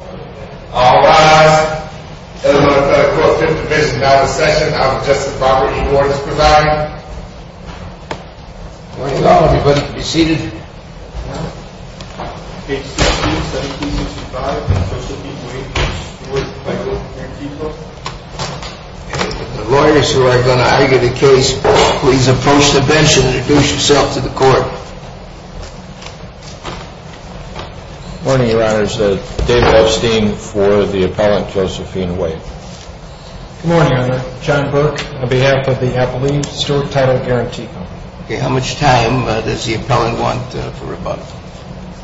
All rise. Element of the Court of Fifth Division now to session. Now to Justice Robert E. Horne is presiding. Good morning to all. Everybody can be seated. Page 16, 1765. Stewart Title Guaranty Co. The lawyers who are going to argue the case, please approach the bench and introduce yourself to the court. Good morning, Your Honors. David Epstein for the appellant Josephine White. Good morning, Your Honor. John Burke on behalf of the Appellee Stewart Title Guaranty Co. Okay. How much time does the appellant want for rebuttal?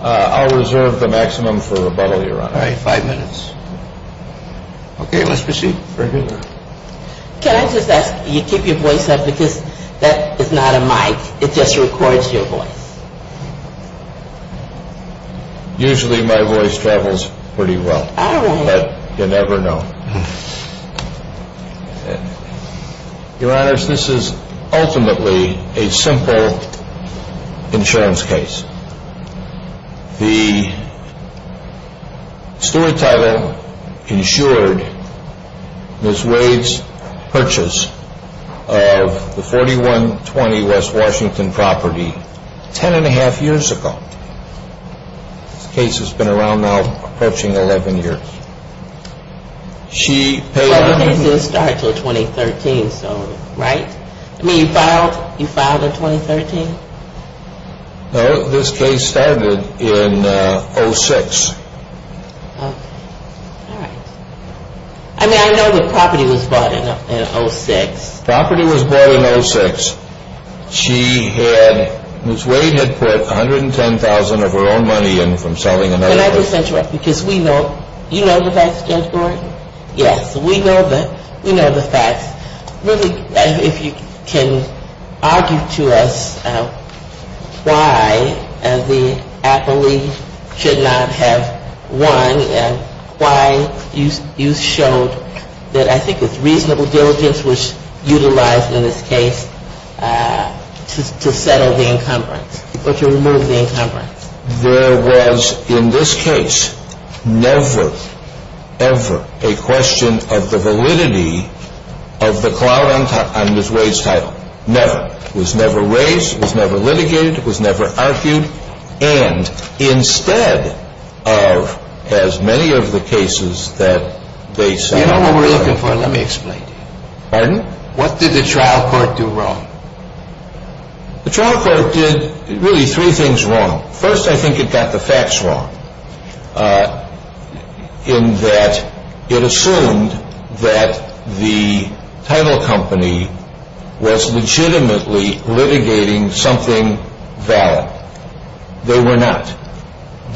I'll reserve the maximum for rebuttal, Your Honor. All right. Five minutes. Okay. Let's proceed. Can I just ask you to keep your voice up because that is not a mic. It just records your voice. Usually my voice travels pretty well. All right. But you never know. Your Honors, this is ultimately a simple insurance case. The Stewart Title insured Ms. Wade's purchase of the 4120 West Washington property ten and a half years ago. This case has been around now approaching 11 years. Well, the case didn't start until 2013, so, right? I mean, you filed in 2013? No, this case started in 06. Okay. All right. I mean, I know the property was bought in 06. The property was bought in 06. Ms. Wade had put $110,000 of her own money in from selling another place. Can I just interrupt because we know, you know the facts, Judge Gordon? Yes. We know the facts. Really, if you can argue to us why the appellee should not have won and why you showed that I think it's reasonable diligence was utilized in this case to settle the encumbrance, or to remove the encumbrance. There was, in this case, never, ever a question of the validity of the clout on Ms. Wade's title. Never. It was never raised. It was never litigated. It was never argued. And, instead of as many of the cases that they said... You know what we're looking for? Let me explain. Pardon? What did the trial court do wrong? The trial court did really three things wrong. First, I think it got the facts wrong in that it assumed that the title company was legitimately litigating something valid. They were not.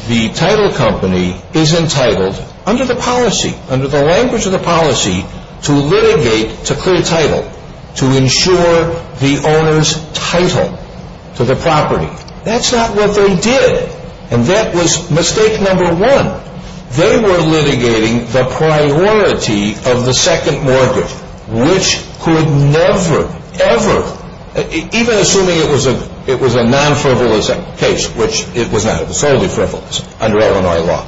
The title company is entitled, under the policy, under the language of the policy, to litigate to clear title, to ensure the owner's title to the property. That's not what they did. And that was mistake number one. They were litigating the priority of the second mortgage, which could never, ever... Even assuming it was a non-frivolous case, which it was not. It was solely frivolous under Illinois law.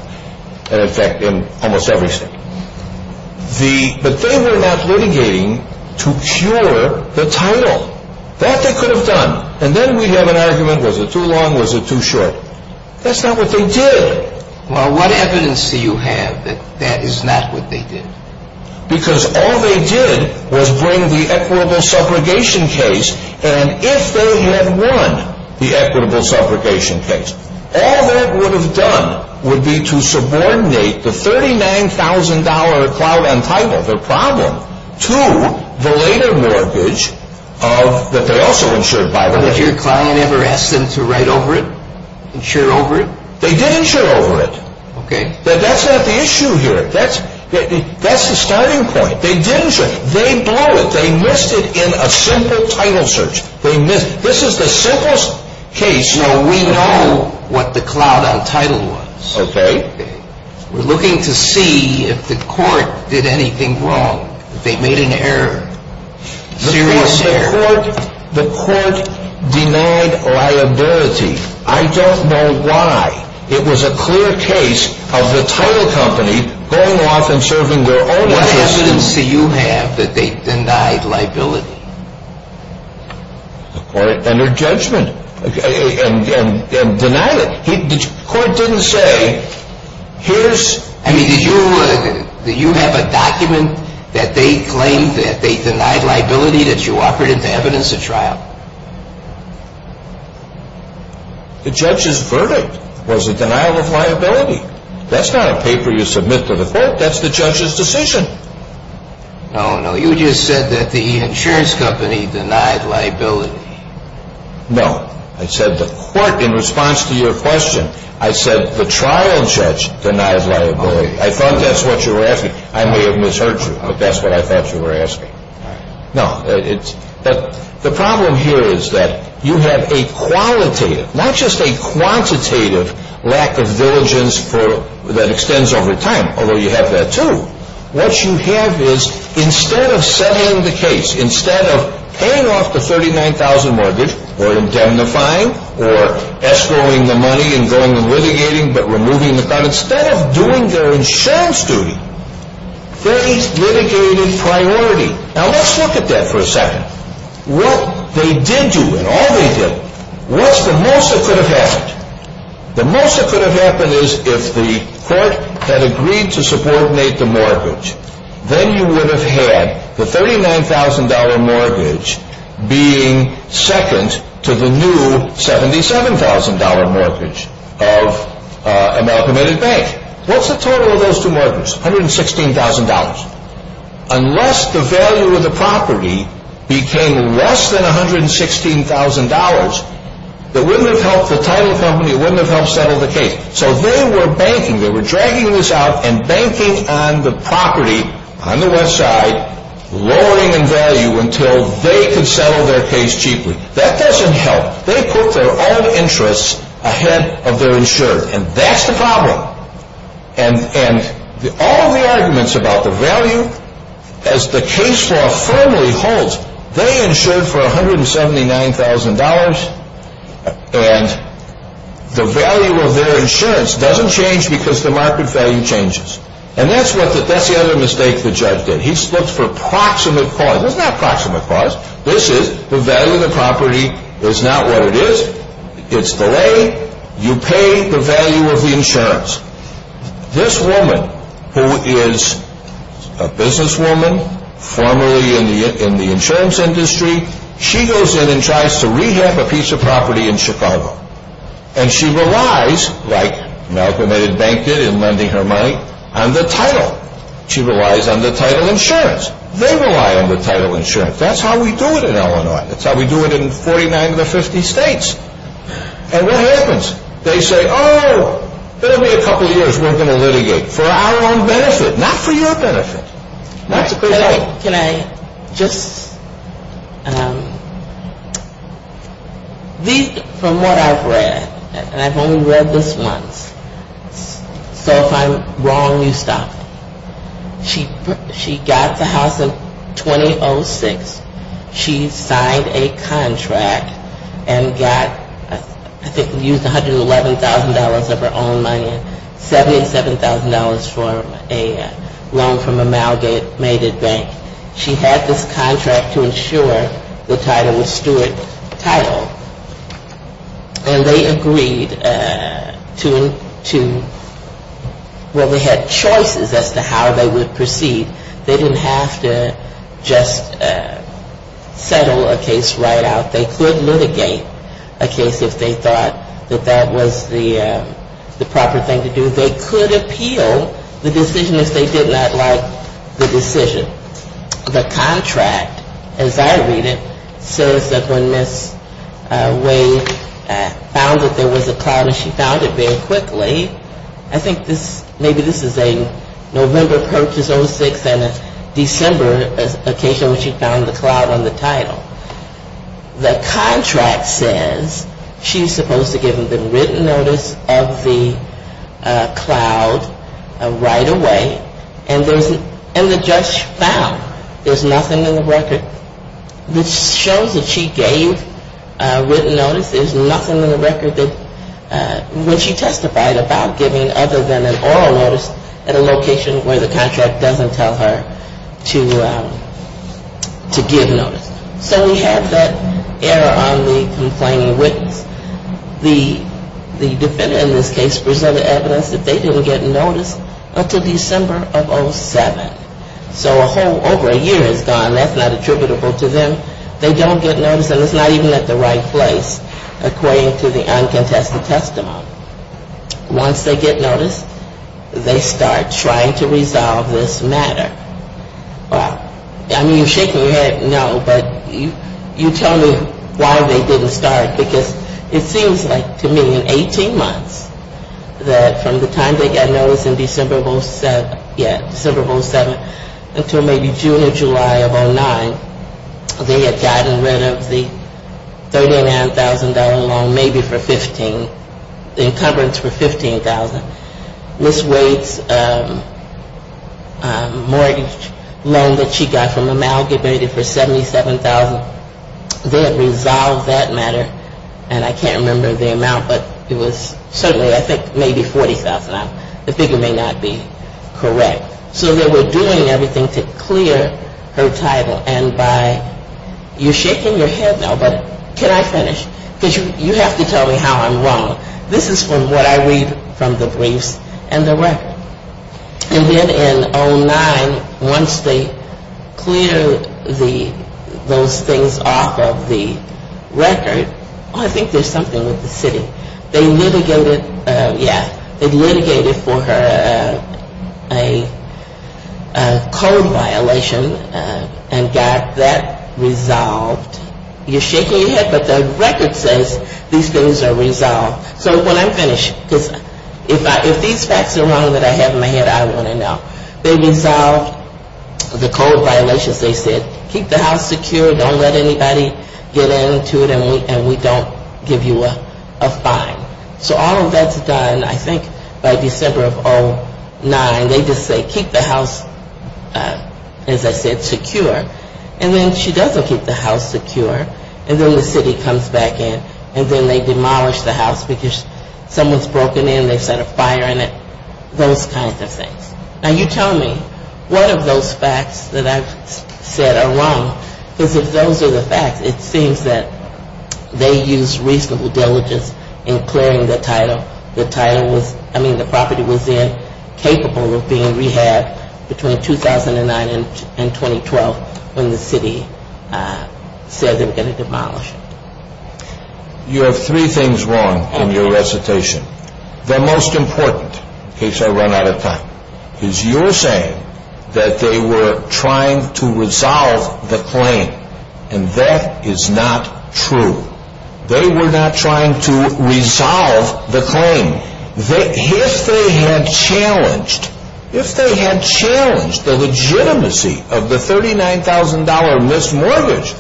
And, in fact, in almost every state. But they were not litigating to cure the title. That they could have done. And then we have an argument, was it too long, was it too short? That's not what they did. Well, what evidence do you have that that is not what they did? Because all they did was bring the equitable subrogation case, and if they had won the equitable subrogation case, all that would have done would be to subordinate the $39,000 cloud on title, their problem, to the later mortgage that they also insured by them. Did your client ever ask them to write over it? Insure over it? They did insure over it. Okay. That's not the issue here. That's the starting point. They did insure. They blew it. They missed it in a simple title search. They missed it. This is the simplest case. No, we know what the cloud on title was. Okay. We're looking to see if the court did anything wrong, if they made an error, serious error. The court denied liability. I don't know why. It was a clear case of the title company going off and serving their own interests. What evidence do you have that they denied liability? The court entered judgment and denied it. The court didn't say, here's... I mean, did you have a document that they claimed that they denied liability that you offered as evidence at trial? The judge's verdict was a denial of liability. That's not a paper you submit to the court. That's the judge's decision. No, no. You just said that the insurance company denied liability. No. I said the court, in response to your question, I said the trial judge denied liability. I thought that's what you were asking. I may have misheard you, but that's what I thought you were asking. No. The problem here is that you have a qualitative, not just a quantitative, lack of diligence that extends over time, although you have that too. What you have is, instead of setting the case, instead of paying off the $39,000 mortgage, or indemnifying, or escrowing the money and going and litigating, but removing the... Instead of doing their insurance duty, they litigated priority. Now, let's look at that for a second. What they did do, and all they did, was the most that could have happened. The most that could have happened is, if the court had agreed to subordinate the mortgage, then you would have had the $39,000 mortgage being second to the new $77,000 mortgage of Amalcomated Bank. What's the total of those two mortgages? $116,000. Unless the value of the property became less than $116,000, it wouldn't have helped the title company. It wouldn't have helped settle the case. So they were banking. They were dragging this out and banking on the property on the West Side, lowering in value until they could settle their case cheaply. That doesn't help. They put their own interests ahead of their insurer, and that's the problem. And all of the arguments about the value, as the case law firmly holds, they insured for $179,000, and the value of their insurance doesn't change because the market value changes. And that's the other mistake the judge did. He looked for proximate cause. It's not proximate cause. This is, the value of the property is not what it is. It's the lay. You pay the value of the insurance. This woman, who is a businesswoman, formerly in the insurance industry, she goes in and tries to rehab a piece of property in Chicago. And she relies, like Malcolm Eddard Bank did in lending her money, on the title. She relies on the title insurance. They rely on the title insurance. That's how we do it in Illinois. That's how we do it in 49 of the 50 states. And what happens? They say, oh, give me a couple of years, we're going to litigate. For our own benefit, not for your benefit. Can I just, from what I've read, and I've only read this once, so if I'm wrong, you stop. She got the house in 2006. She signed a contract and got, I think used $111,000 of her own money, $77,000 for a loan from Amalgamated Bank. She had this contract to insure the title, the Stewart title. And they agreed to, well, they had choices as to how they would proceed. They didn't have to just settle a case right out. They could litigate a case if they thought that that was the proper thing to do. They could appeal the decision if they did not like the decision. The contract, as I read it, says that when Ms. Wade found that there was a problem, and she found it very quickly, I think maybe this is a November purchase, 06, and a December occasion when she found the cloud on the title. The contract says she's supposed to give them the written notice of the cloud right away, and the judge found there's nothing in the record. This shows that she gave written notice. There's nothing in the record that when she testified about giving other than an oral notice at a location where the contract doesn't tell her to give notice. So we have that error on the complaining witness. The defendant in this case presented evidence that they didn't get notice until December of 07. So over a year has gone. That's not attributable to them. They don't get notice, and it's not even at the right place, according to the uncontested testimony. Once they get notice, they start trying to resolve this matter. I mean, you're shaking your head no, but you tell me why they didn't start, because it seems like to me in 18 months that from the time they got notice in December of 07, until maybe June or July of 09, they had gotten rid of the $39,000 loan, maybe for 15, the encumbrance for $15,000. Ms. Wade's mortgage loan that she got from Amalgamated for $77,000. They had resolved that matter, and I can't remember the amount, but it was certainly I think maybe $40,000. The figure may not be correct. So they were doing everything to clear her title. And by, you're shaking your head no, but can I finish? Because you have to tell me how I'm wrong. This is from what I read from the briefs and the record. And then in 09, once they cleared those things off of the record, I think there's something with the city. They litigated, yeah, they litigated for her a code violation and got that resolved. You're shaking your head, but the record says these things are resolved. So when I'm finished, because if these facts are wrong that I have in my head, I want to know. They resolved the code violations, they said. Don't let anybody get into it, and we don't give you a fine. So all of that's done, I think, by December of 09. They just say keep the house, as I said, secure. And then she doesn't keep the house secure. And then the city comes back in, and then they demolish the house because someone's broken in, they set a fire in it, those kinds of things. Now, you tell me, what of those facts that I've said are wrong? Because if those are the facts, it seems that they used reasonable diligence in clearing the title. The title was, I mean, the property was then capable of being rehabbed between 2009 and 2012 when the city said they were going to demolish it. You have three things wrong in your recitation. The most important, in case I run out of time, is you're saying that they were trying to resolve the claim, and that is not true. They were not trying to resolve the claim. If they had challenged, if they had challenged the legitimacy of the $39,000 missed mortgage,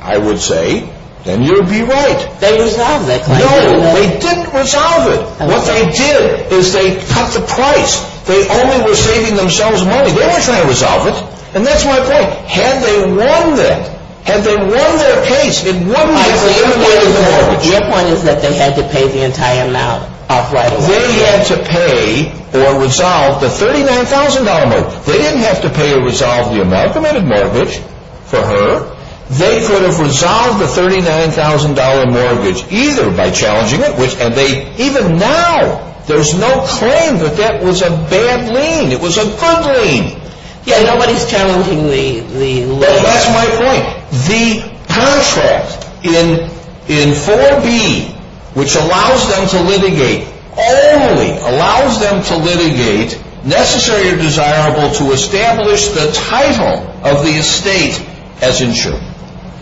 I would say, then you'd be right. They resolved that claim. No, they didn't resolve it. What they did is they cut the price. They only were saving themselves money. They weren't trying to resolve it. And that's my point. Had they won that, had they won their case, it wouldn't have been worth the mortgage. My point is that they had to pay the entire amount off right away. They had to pay or resolve the $39,000 mortgage. They didn't have to pay or resolve the amalgamated mortgage for her. They could have resolved the $39,000 mortgage either by challenging it, and even now there's no claim that that was a bad lien. It was a good lien. Yeah, nobody's challenging the lien. That's my point. The contract in 4B, which allows them to litigate, only allows them to litigate necessary or desirable to establish the title of the estate as insured.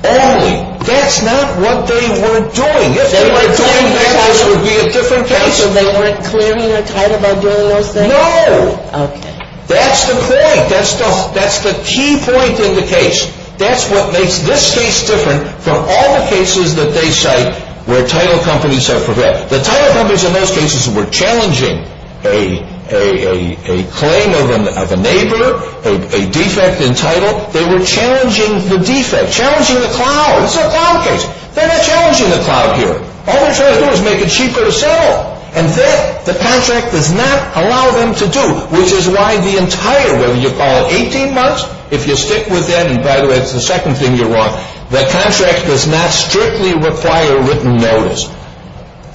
Only. That's not what they were doing. If they were doing that, this would be a different case. So they weren't clearing their title by doing those things? No. Okay. That's the point. That's the key point in the case. That's what makes this case different from all the cases that they cite where title companies are prepared. The title companies in those cases were challenging a claim of a neighbor, a defect in title. They were challenging the defect, challenging the cloud. This is a cloud case. They're not challenging the cloud here. All they're trying to do is make it cheaper to sell. And that, the contract does not allow them to do, which is why the entire, whether you call it 18 months, if you stick with that, and by the way, that's the second thing you're wrong, the contract does not strictly require written notice.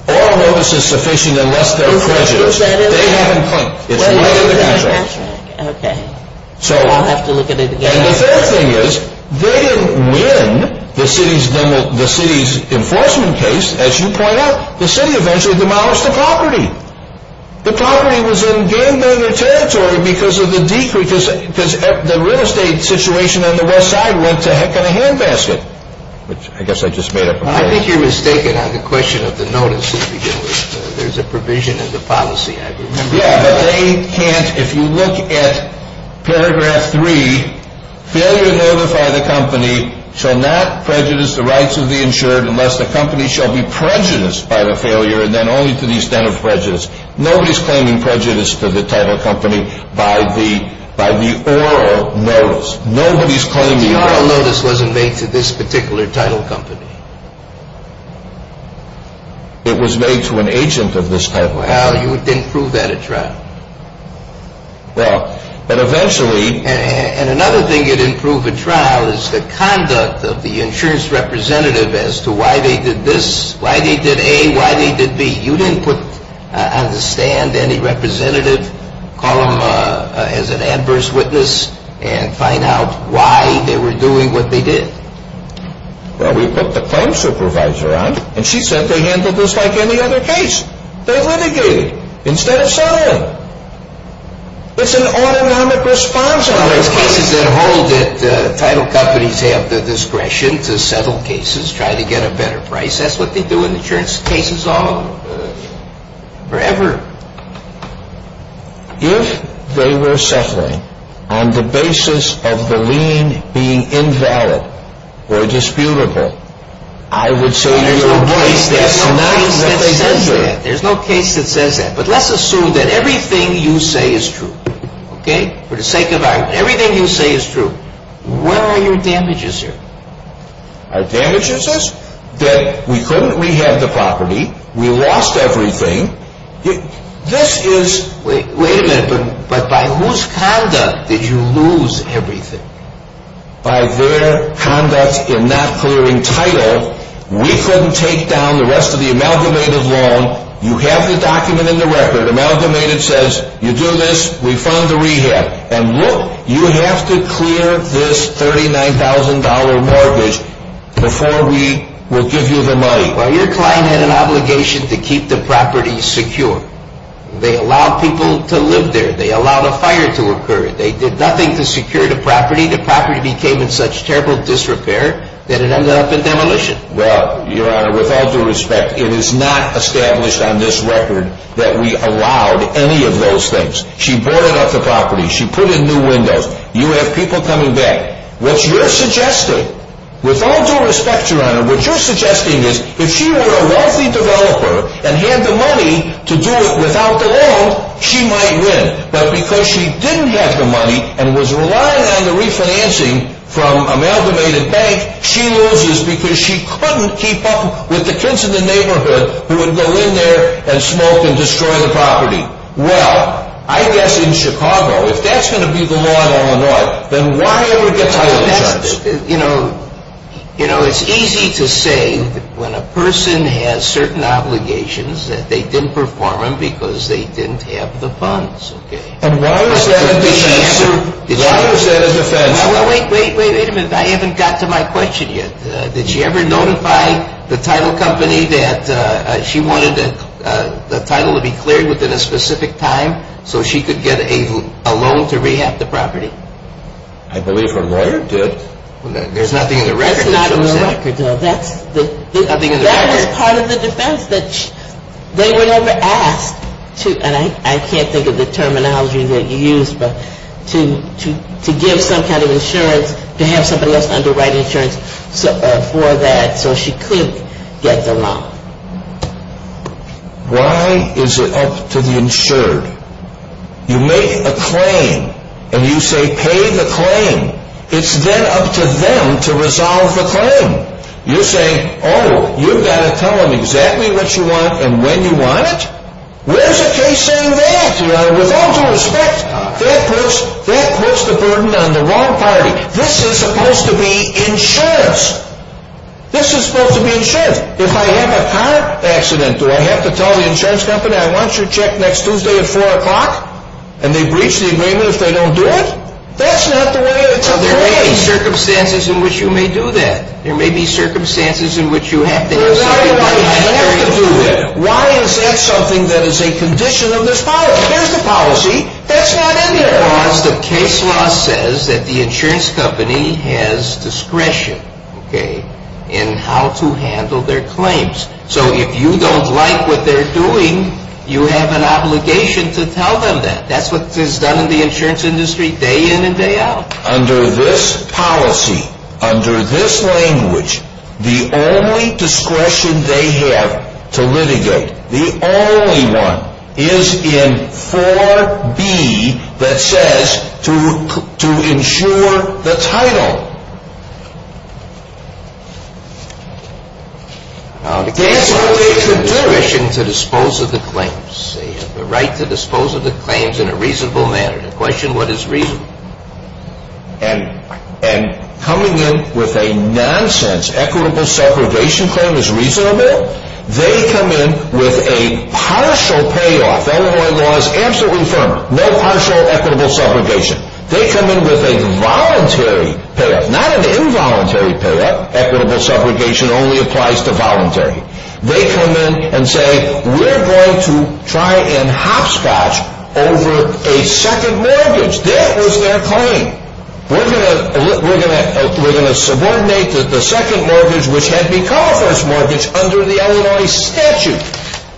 All notice is sufficient unless they're prejudiced. They haven't claimed. It's not in the contract. Okay. So I'll have to look at it again. And the third thing is, they didn't win the city's enforcement case, as you point out. The city eventually demolished the property. The property was in gangbanger territory because of the decrease, because the real estate situation on the west side went to heck in a handbasket, which I guess I just made up. I think you're mistaken on the question of the notice. There's a provision in the policy, I remember. Yeah, but they can't, if you look at paragraph three, failure to notify the company shall not prejudice the rights of the insured unless the company shall be prejudiced by the failure and then only to the extent of prejudice. Nobody's claiming prejudice to the title company by the oral notice. Nobody's claiming the oral notice. The oral notice wasn't made to this particular title company. It was made to an agent of this title agency. Well, you didn't prove that at trial. Well, but eventually. And another thing you didn't prove at trial is the conduct of the insurance representative as to why they did this, why they did A, why they did B. You didn't put on the stand any representative, call them as an adverse witness, and find out why they were doing what they did. Well, we put the claim supervisor on, and she said they handled this like any other case. They litigated instead of selling. It's an autonomic response. Well, those cases that hold it, title companies have the discretion to settle cases, try to get a better price. That's what they do in insurance cases all over, forever. If they were settling on the basis of the lien being invalid or disputable, I would say you're right. There's no case that says that. There's no case that says that. But let's assume that everything you say is true, okay, for the sake of argument. Everything you say is true. What are your damages here? Our damages is that we couldn't rehab the property. We lost everything. This is, wait a minute, but by whose conduct did you lose everything? By their conduct in not clearing title. We couldn't take down the rest of the amalgamated loan. You have the document in the record. Amalgamated says you do this, we fund the rehab. And look, you have to clear this $39,000 mortgage before we will give you the money. Well, your client had an obligation to keep the property secure. They allowed people to live there. They allowed a fire to occur. They did nothing to secure the property. The property became in such terrible disrepair that it ended up in demolition. Well, Your Honor, with all due respect, it is not established on this record that we allowed any of those things. She bought up the property. She put in new windows. You have people coming back. What you're suggesting, with all due respect, Your Honor, what you're suggesting is if she were a wealthy developer and had the money to do it without the loan, she might win. But because she didn't have the money and was relying on the refinancing from amalgamated bank, she loses because she couldn't keep up with the kids in the neighborhood who would go in there and smoke and destroy the property. Well, I guess in Chicago, if that's going to be the law in Illinois, then why over the title charge? You know, it's easy to say when a person has certain obligations that they didn't perform them because they didn't have the funds. And why was that a defense? Why was that a defense? Wait a minute. I haven't got to my question yet. Did she ever notify the title company that she wanted the title to be cleared within a specific time so she could get a loan to rehab the property? I believe her lawyer did. There's nothing in the record that shows that? There's nothing in the record. That was part of the defense. They were never asked to, and I can't think of the terminology that you used, to give some kind of insurance, to have somebody else underwrite insurance for that so she could get the loan. Why is it up to the insured? You make a claim and you say pay the claim. It's then up to them to resolve the claim. You're saying, oh, you've got to tell them exactly what you want and when you want it? Where's a case saying that? With all due respect, that puts the burden on the wrong party. This is supposed to be insurance. This is supposed to be insurance. If I have a car accident, do I have to tell the insurance company I want your check next Tuesday at 4 o'clock? And they breach the agreement if they don't do it? That's not the way it's arranged. Now, there may be circumstances in which you may do that. There may be circumstances in which you have to do that. Why is that something that is a condition of this policy? Here's the policy. That's not in there. Because the case law says that the insurance company has discretion in how to handle their claims. So if you don't like what they're doing, you have an obligation to tell them that. That's what is done in the insurance industry day in and day out. Under this policy, under this language, the only discretion they have to litigate, the only one is in 4B that says to insure the title. Now, the case law makes it a condition to dispose of the claims. They have the right to dispose of the claims in a reasonable manner. And the question, what is reasonable? And coming in with a nonsense equitable subrogation claim is reasonable? They come in with a partial payoff. Illinois law is absolutely firm. No partial equitable subrogation. They come in with a voluntary payoff. Not an involuntary payoff. Equitable subrogation only applies to voluntary. They come in and say, we're going to try and hopscotch over a second mortgage. That was their claim. We're going to subordinate the second mortgage, which had become a first mortgage, under the Illinois statute.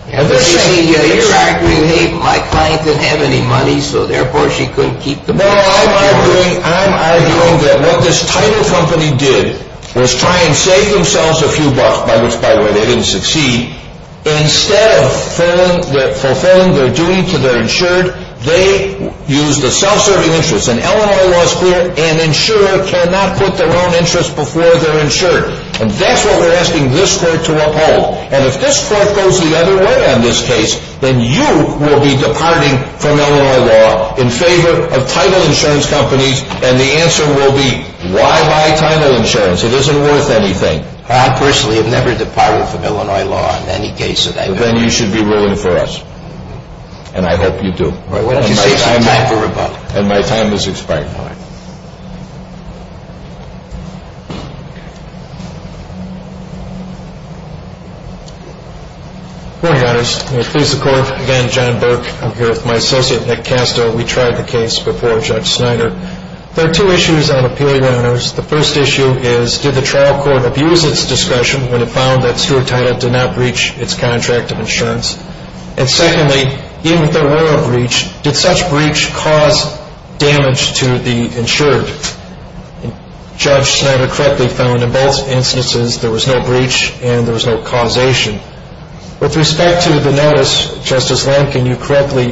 And they say, hey, my client didn't have any money, so therefore she couldn't keep the mortgage. Now, I'm arguing that what this title company did was try and save themselves a few bucks, by which, by the way, they didn't succeed. Instead of fulfilling their duty to their insured, they used a self-serving interest. And Illinois law is clear. An insurer cannot put their own interest before their insured. And that's what we're asking this Court to uphold. And if this Court goes the other way on this case, then you will be departing from Illinois law in favor of title insurance companies. And the answer will be, why buy title insurance? It isn't worth anything. I, personally, have never departed from Illinois law in any case that I've been in. Then you should be ruling for us. And I hope you do. Why don't you save some time for rebuttal? And my time has expired. All right. Good morning, audience. May it please the Court. Again, John Burke. I'm here with my associate, Nick Castro. We tried the case before Judge Snyder. There are two issues on appeal, Your Honors. The first issue is, did the trial court abuse its discussion when it found that Stuart Title did not breach its contract of insurance? And secondly, even if there were a breach, did such breach cause damage to the insured? And Judge Snyder correctly found in both instances there was no breach and there was no causation. With respect to the notice, Justice Lankin, you correctly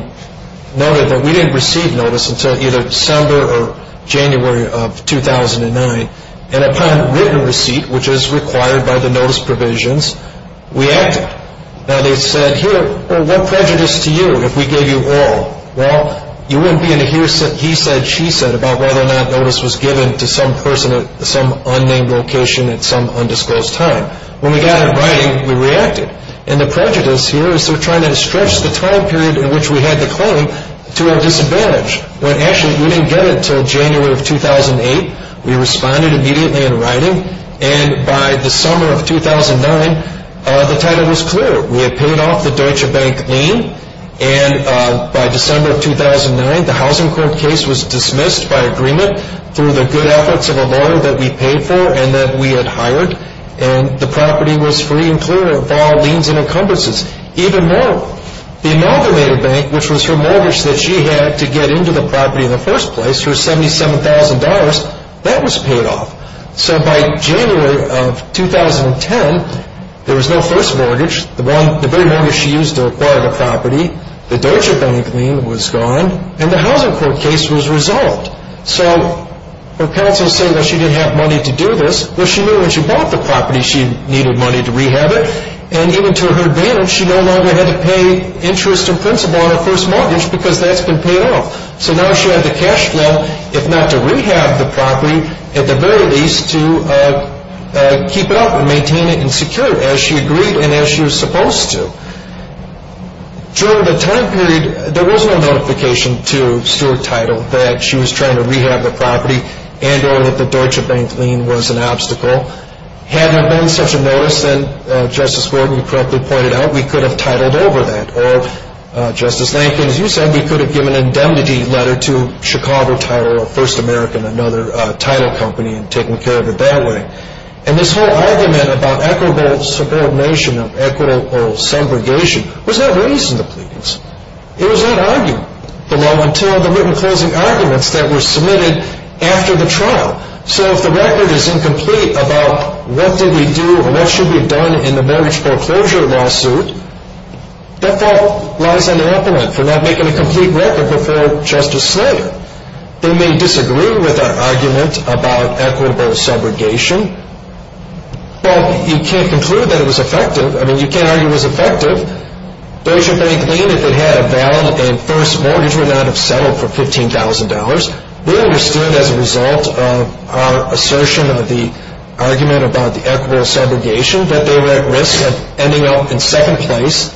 noted that we didn't receive notice until either December or January of 2009. And upon written receipt, which is required by the notice provisions, we acted. Now, they said, here, what prejudice to you if we gave you all? Well, you wouldn't be able to hear he said, she said about whether or not notice was given to some person at some unnamed location at some undisclosed time. When we got it in writing, we reacted. And the prejudice here is they're trying to stretch the time period in which we had the claim to a disadvantage. When actually, we didn't get it until January of 2008. We responded immediately in writing. And by the summer of 2009, the title was clear. We had paid off the Deutsche Bank lien. And by December of 2009, the housing court case was dismissed by agreement through the good efforts of a lawyer that we paid for and that we had hired. And the property was free and clear of all liens and encumbrances. Even more, the amalgamated bank, which was her mortgage that she had to get into the property in the first place, her $77,000, that was paid off. So by January of 2010, there was no first mortgage. The very mortgage she used to acquire the property, the Deutsche Bank lien was gone, and the housing court case was resolved. So her counsel said, well, she didn't have money to do this. Well, she knew when she bought the property, she needed money to rehab it. And even to her advantage, she no longer had to pay interest and principal on her first mortgage because that's been paid off. So now she had the cash flow, if not to rehab the property, at the very least to keep it up and maintain it and secure it as she agreed and as she was supposed to. During the time period, there was no notification to Stewart Title that she was trying to rehab the property and or that the Deutsche Bank lien was an obstacle. Had there been such a notice, then, Justice Wharton, you correctly pointed out, we could have titled over that. Or, Justice Lankin, as you said, we could have given an indemnity letter to Chicago Title or First American, another title company, and taken care of it that way. And this whole argument about equitable subordination or equitable subrogation was not raised in the pleadings. It was not argued below until the written closing arguments that were submitted after the trial. So if the record is incomplete about what did we do or what should be done in the mortgage foreclosure lawsuit, that fault lies on the upper end for not making a complete record before Justice Slater. They may disagree with our argument about equitable subrogation, but you can't conclude that it was effective. I mean, you can't argue it was effective. Deutsche Bank lien, if it had a valid and first mortgage, would not have settled for $15,000. We understood as a result of our assertion of the argument about the equitable subrogation that they were at risk of ending up in second place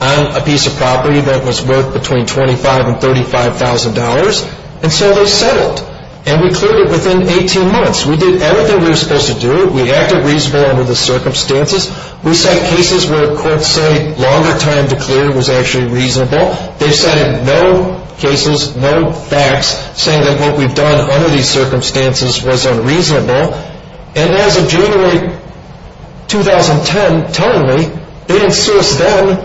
on a piece of property that was worth between $25,000 and $35,000. And so they settled. And we cleared it within 18 months. We did everything we were supposed to do. We acted reasonable under the circumstances. We set cases where courts say longer time to clear was actually reasonable. They've said in no cases, no facts, saying that what we've done under these circumstances was unreasonable. And as of January 2010, telling me, they didn't sue us then.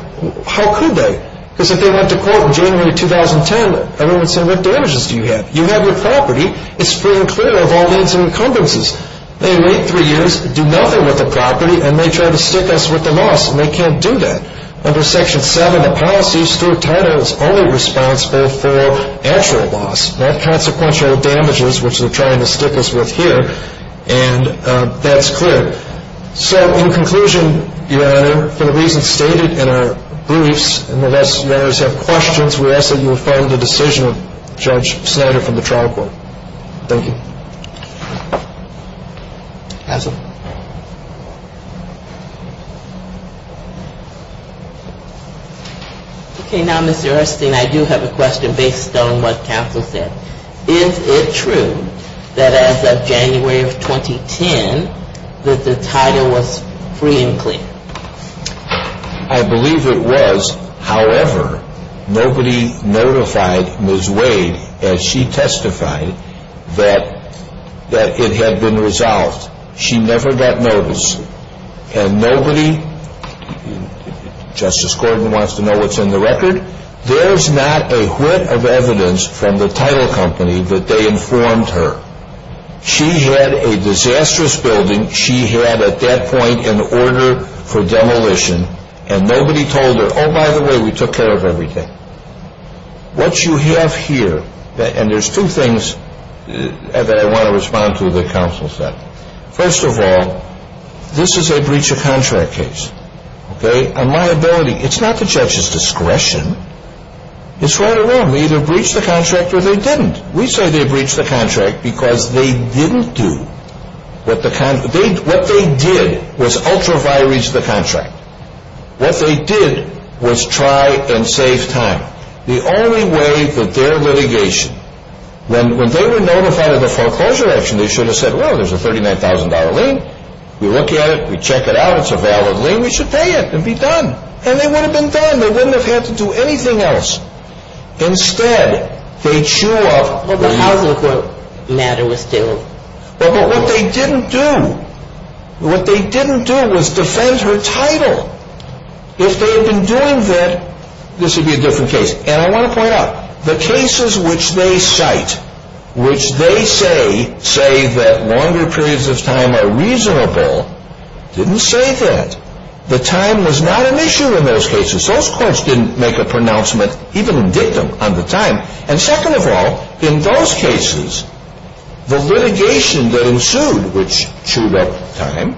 How could they? Because if they went to court in January 2010, everyone would say, what damages do you have? You have your property. It's pretty clear of all needs and encumbrances. They wait three years, do nothing with the property, and they try to stick us with the loss, and they can't do that. Under Section 7 of the policy, Stuart Title is only responsible for actual loss, not consequential damages, which they're trying to stick us with here. And that's clear. So, in conclusion, Your Honor, for the reasons stated in our briefs, and unless you have questions, we ask that you affirm the decision of Judge Snyder from the trial court. Thank you. Counsel? Okay. Now, Mr. Erstein, I do have a question based on what counsel said. Is it true that as of January of 2010, that the title was free and clear? I believe it was. However, nobody notified Ms. Wade as she testified that it had been resolved. She never got notice. And nobody, Justice Corbin wants to know what's in the record. There's not a whiff of evidence from the title company that they informed her. She had a disastrous building. She had, at that point, an order for demolition, and nobody told her, oh, by the way, we took care of everything. What you have here, and there's two things that I want to respond to that counsel said. First of all, this is a breach of contract case. Okay? On my ability, it's not the judge's discretion. It's right or wrong. They either breached the contract or they didn't. We say they breached the contract because they didn't do. What they did was ultraviolet reach the contract. What they did was try and save time. The only way that their litigation, when they were notified of the foreclosure action, they should have said, well, there's a $39,000 lien. We look at it. We check it out. It's a valid lien. We should pay it and be done. And they would have been done. They wouldn't have had to do anything else. Instead, they chew up. Well, the housing court matter was still. But what they didn't do, what they didn't do was defend her title. If they had been doing that, this would be a different case. And I want to point out, the cases which they cite, which they say, say that longer periods of time are reasonable, didn't say that. The time was not an issue in those cases. Those courts didn't make a pronouncement, even in dictum, on the time. And second of all, in those cases, the litigation that ensued, which chewed up time,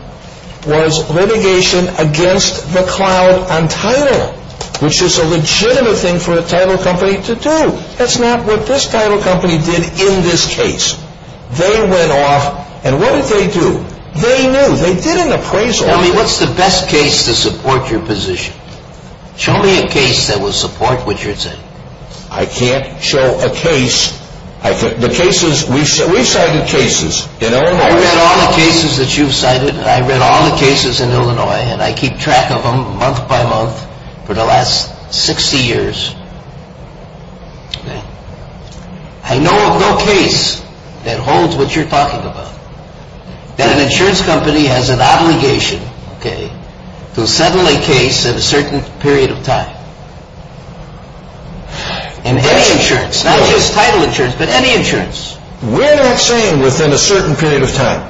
was litigation against the cloud on title, which is a legitimate thing for a title company to do. That's not what this title company did in this case. They went off. And what did they do? They knew. They did an appraisal. Tell me, what's the best case to support your position? Show me a case that will support what you're saying. I can't show a case. The cases, we've cited cases in Illinois. I read all the cases that you've cited. I read all the cases in Illinois. And I keep track of them, month by month, for the last 60 years. I know of no case that holds what you're talking about. That an insurance company has an obligation to settle a case at a certain period of time. And any insurance, not just title insurance, but any insurance. We're not saying within a certain period of time.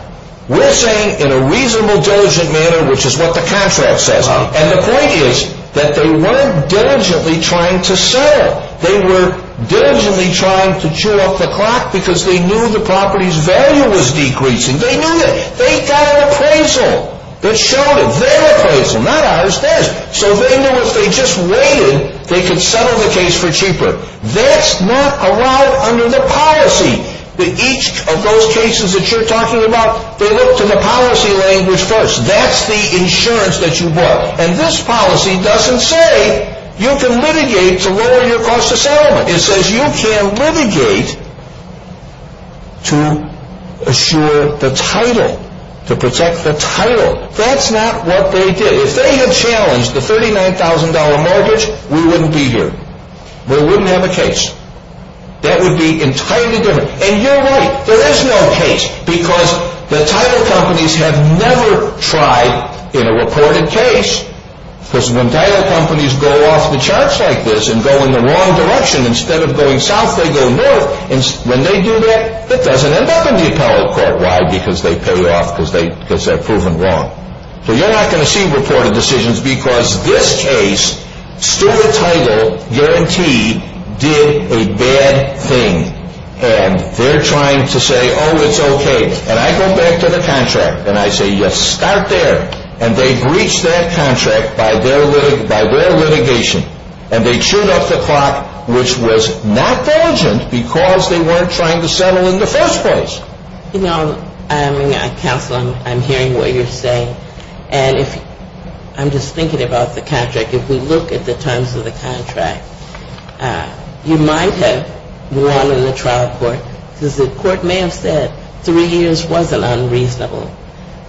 We're saying in a reasonable, diligent manner, which is what the contract says. And the point is that they weren't diligently trying to sell. They were diligently trying to chew up the clock because they knew the property's value was decreasing. They knew that. They got an appraisal that showed it. Their appraisal, not ours, theirs. So they knew if they just waited, they could settle the case for cheaper. That's not allowed under the policy. Each of those cases that you're talking about, they looked in the policy language first. That's the insurance that you bought. And this policy doesn't say you can litigate to lower your cost of settlement. It says you can litigate to assure the title, to protect the title. That's not what they did. If they had challenged the $39,000 mortgage, we wouldn't be here. We wouldn't have a case. That would be entirely different. And you're right. There is no case because the title companies have never tried in a reported case. Because when title companies go off the charts like this and go in the wrong direction, instead of going south, they go north. And when they do that, it doesn't end up in the appellate court. Why? Because they pay off because they've proven wrong. So you're not going to see reported decisions because this case, still the title guarantee did a bad thing. And they're trying to say, oh, it's okay. And I go back to the contract and I say, yes, start there. And they breached that contract by their litigation. And they chewed up the clock, which was not diligent because they weren't trying to settle in the first place. You know, counsel, I'm hearing what you're saying. And I'm just thinking about the contract. If we look at the terms of the contract, you might have won in the trial court because the court may have said three years was an unreasonable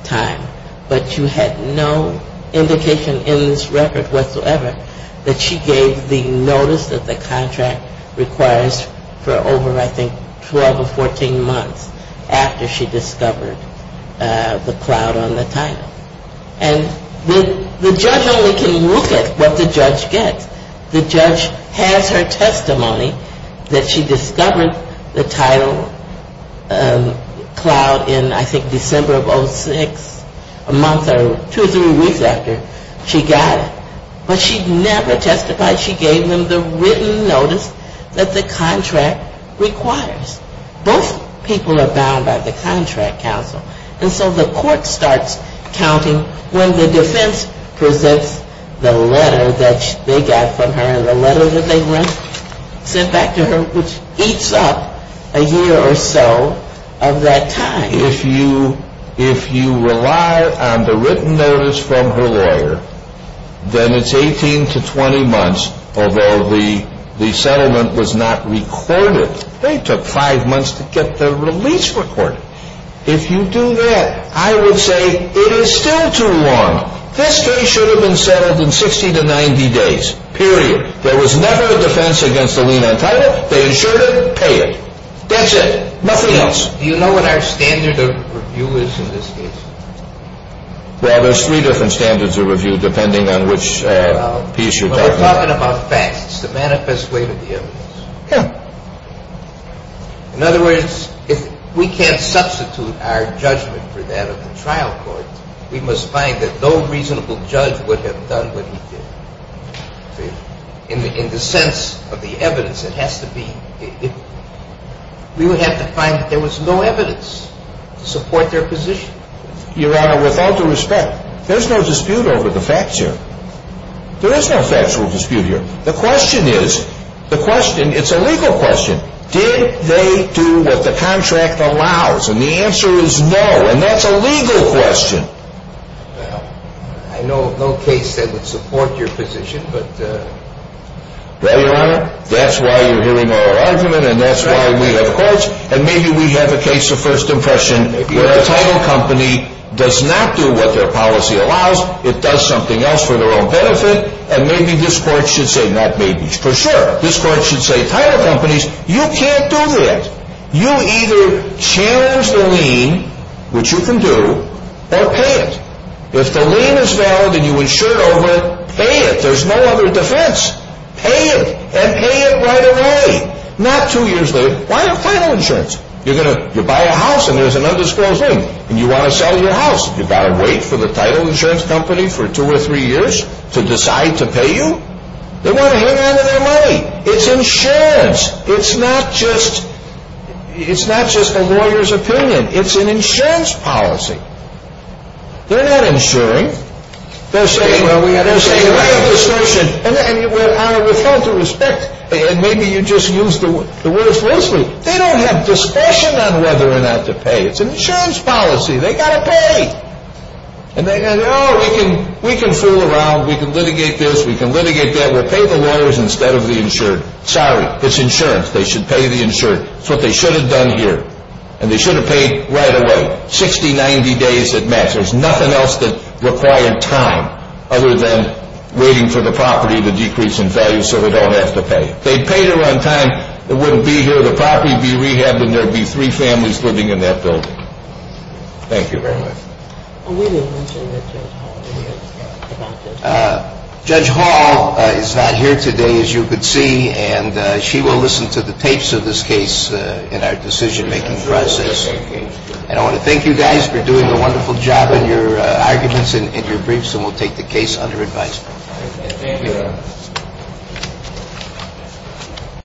time. But you had no indication in this record whatsoever that she gave the notice that the contract requires for over, I think, 12 or 14 months after she discovered the cloud on the title. And the judge only can look at what the judge gets. The judge has her testimony that she discovered the title cloud in, I think, December of 06, a month or two or three weeks after she got it. But she never testified she gave them the written notice that the contract requires. Both people are bound by the contract, counsel. And so the court starts counting when the defense presents the letter that they got from her and the letter that they sent back to her, which eats up a year or so of that time. If you rely on the written notice from her lawyer, then it's 18 to 20 months, although the settlement was not recorded. They took five months to get the release recorded. If you do that, I would say it is still too long. This case should have been settled in 60 to 90 days, period. There was never a defense against the lien on title. They insured it, paid it. That's it. Nothing else. Do you know what our standard of review is in this case? Well, there's three different standards of review, depending on which piece you're talking about. Well, we're talking about facts, the manifest way to the evidence. Yeah. In other words, if we can't substitute our judgment for that of the trial court, we must find that no reasonable judge would have done what he did. In the sense of the evidence, it has to be – we would have to find that there was no evidence to support their position. Your Honor, with all due respect, there's no dispute over the facts here. There is no factual dispute here. The question is – the question – it's a legal question. Did they do what the contract allows? And the answer is no, and that's a legal question. Well, I know of no case that would support your position, but – Well, Your Honor, that's why you're hearing our argument, and that's why we have courts. And maybe we have a case of first impression where a title company does not do what their policy allows. It does something else for their own benefit. And maybe this court should say – not maybe, for sure – this court should say, title companies, you can't do that. You either change the lien, which you can do, or pay it. If the lien is valid and you insure over it, pay it. There's no other defense. Pay it, and pay it right away. Not two years later. Why title insurance? You're going to – you buy a house and there's an undisclosed lien, and you want to sell your house. You've got to wait for the title insurance company for two or three years to decide to pay you? They want to hang on to their money. It's insurance. It's not just – it's not just a lawyer's opinion. It's an insurance policy. They're not insuring. They're saying, well, we have – they're saying, well, we have discretion. And Your Honor, with all due respect, and maybe you just used the words loosely, they don't have discretion on whether or not to pay. It's an insurance policy. They've got to pay. And they go, no, we can fool around. We can litigate this. We can litigate that. We'll pay the lawyers instead of the insured. Sorry. It's insurance. They should pay the insured. It's what they should have done here. And they should have paid right away. 60, 90 days at max. There's nothing else that required time other than waiting for the property to decrease in value so we don't have to pay. If they'd paid it on time, it wouldn't be here. So the property would be rehabbed and there would be three families living in that building. Thank you very much. We didn't mention that Judge Hall is here. Judge Hall is not here today, as you could see, and she will listen to the tapes of this case in our decision-making process. And I want to thank you guys for doing a wonderful job on your arguments and your briefs, Thank you, Your Honor.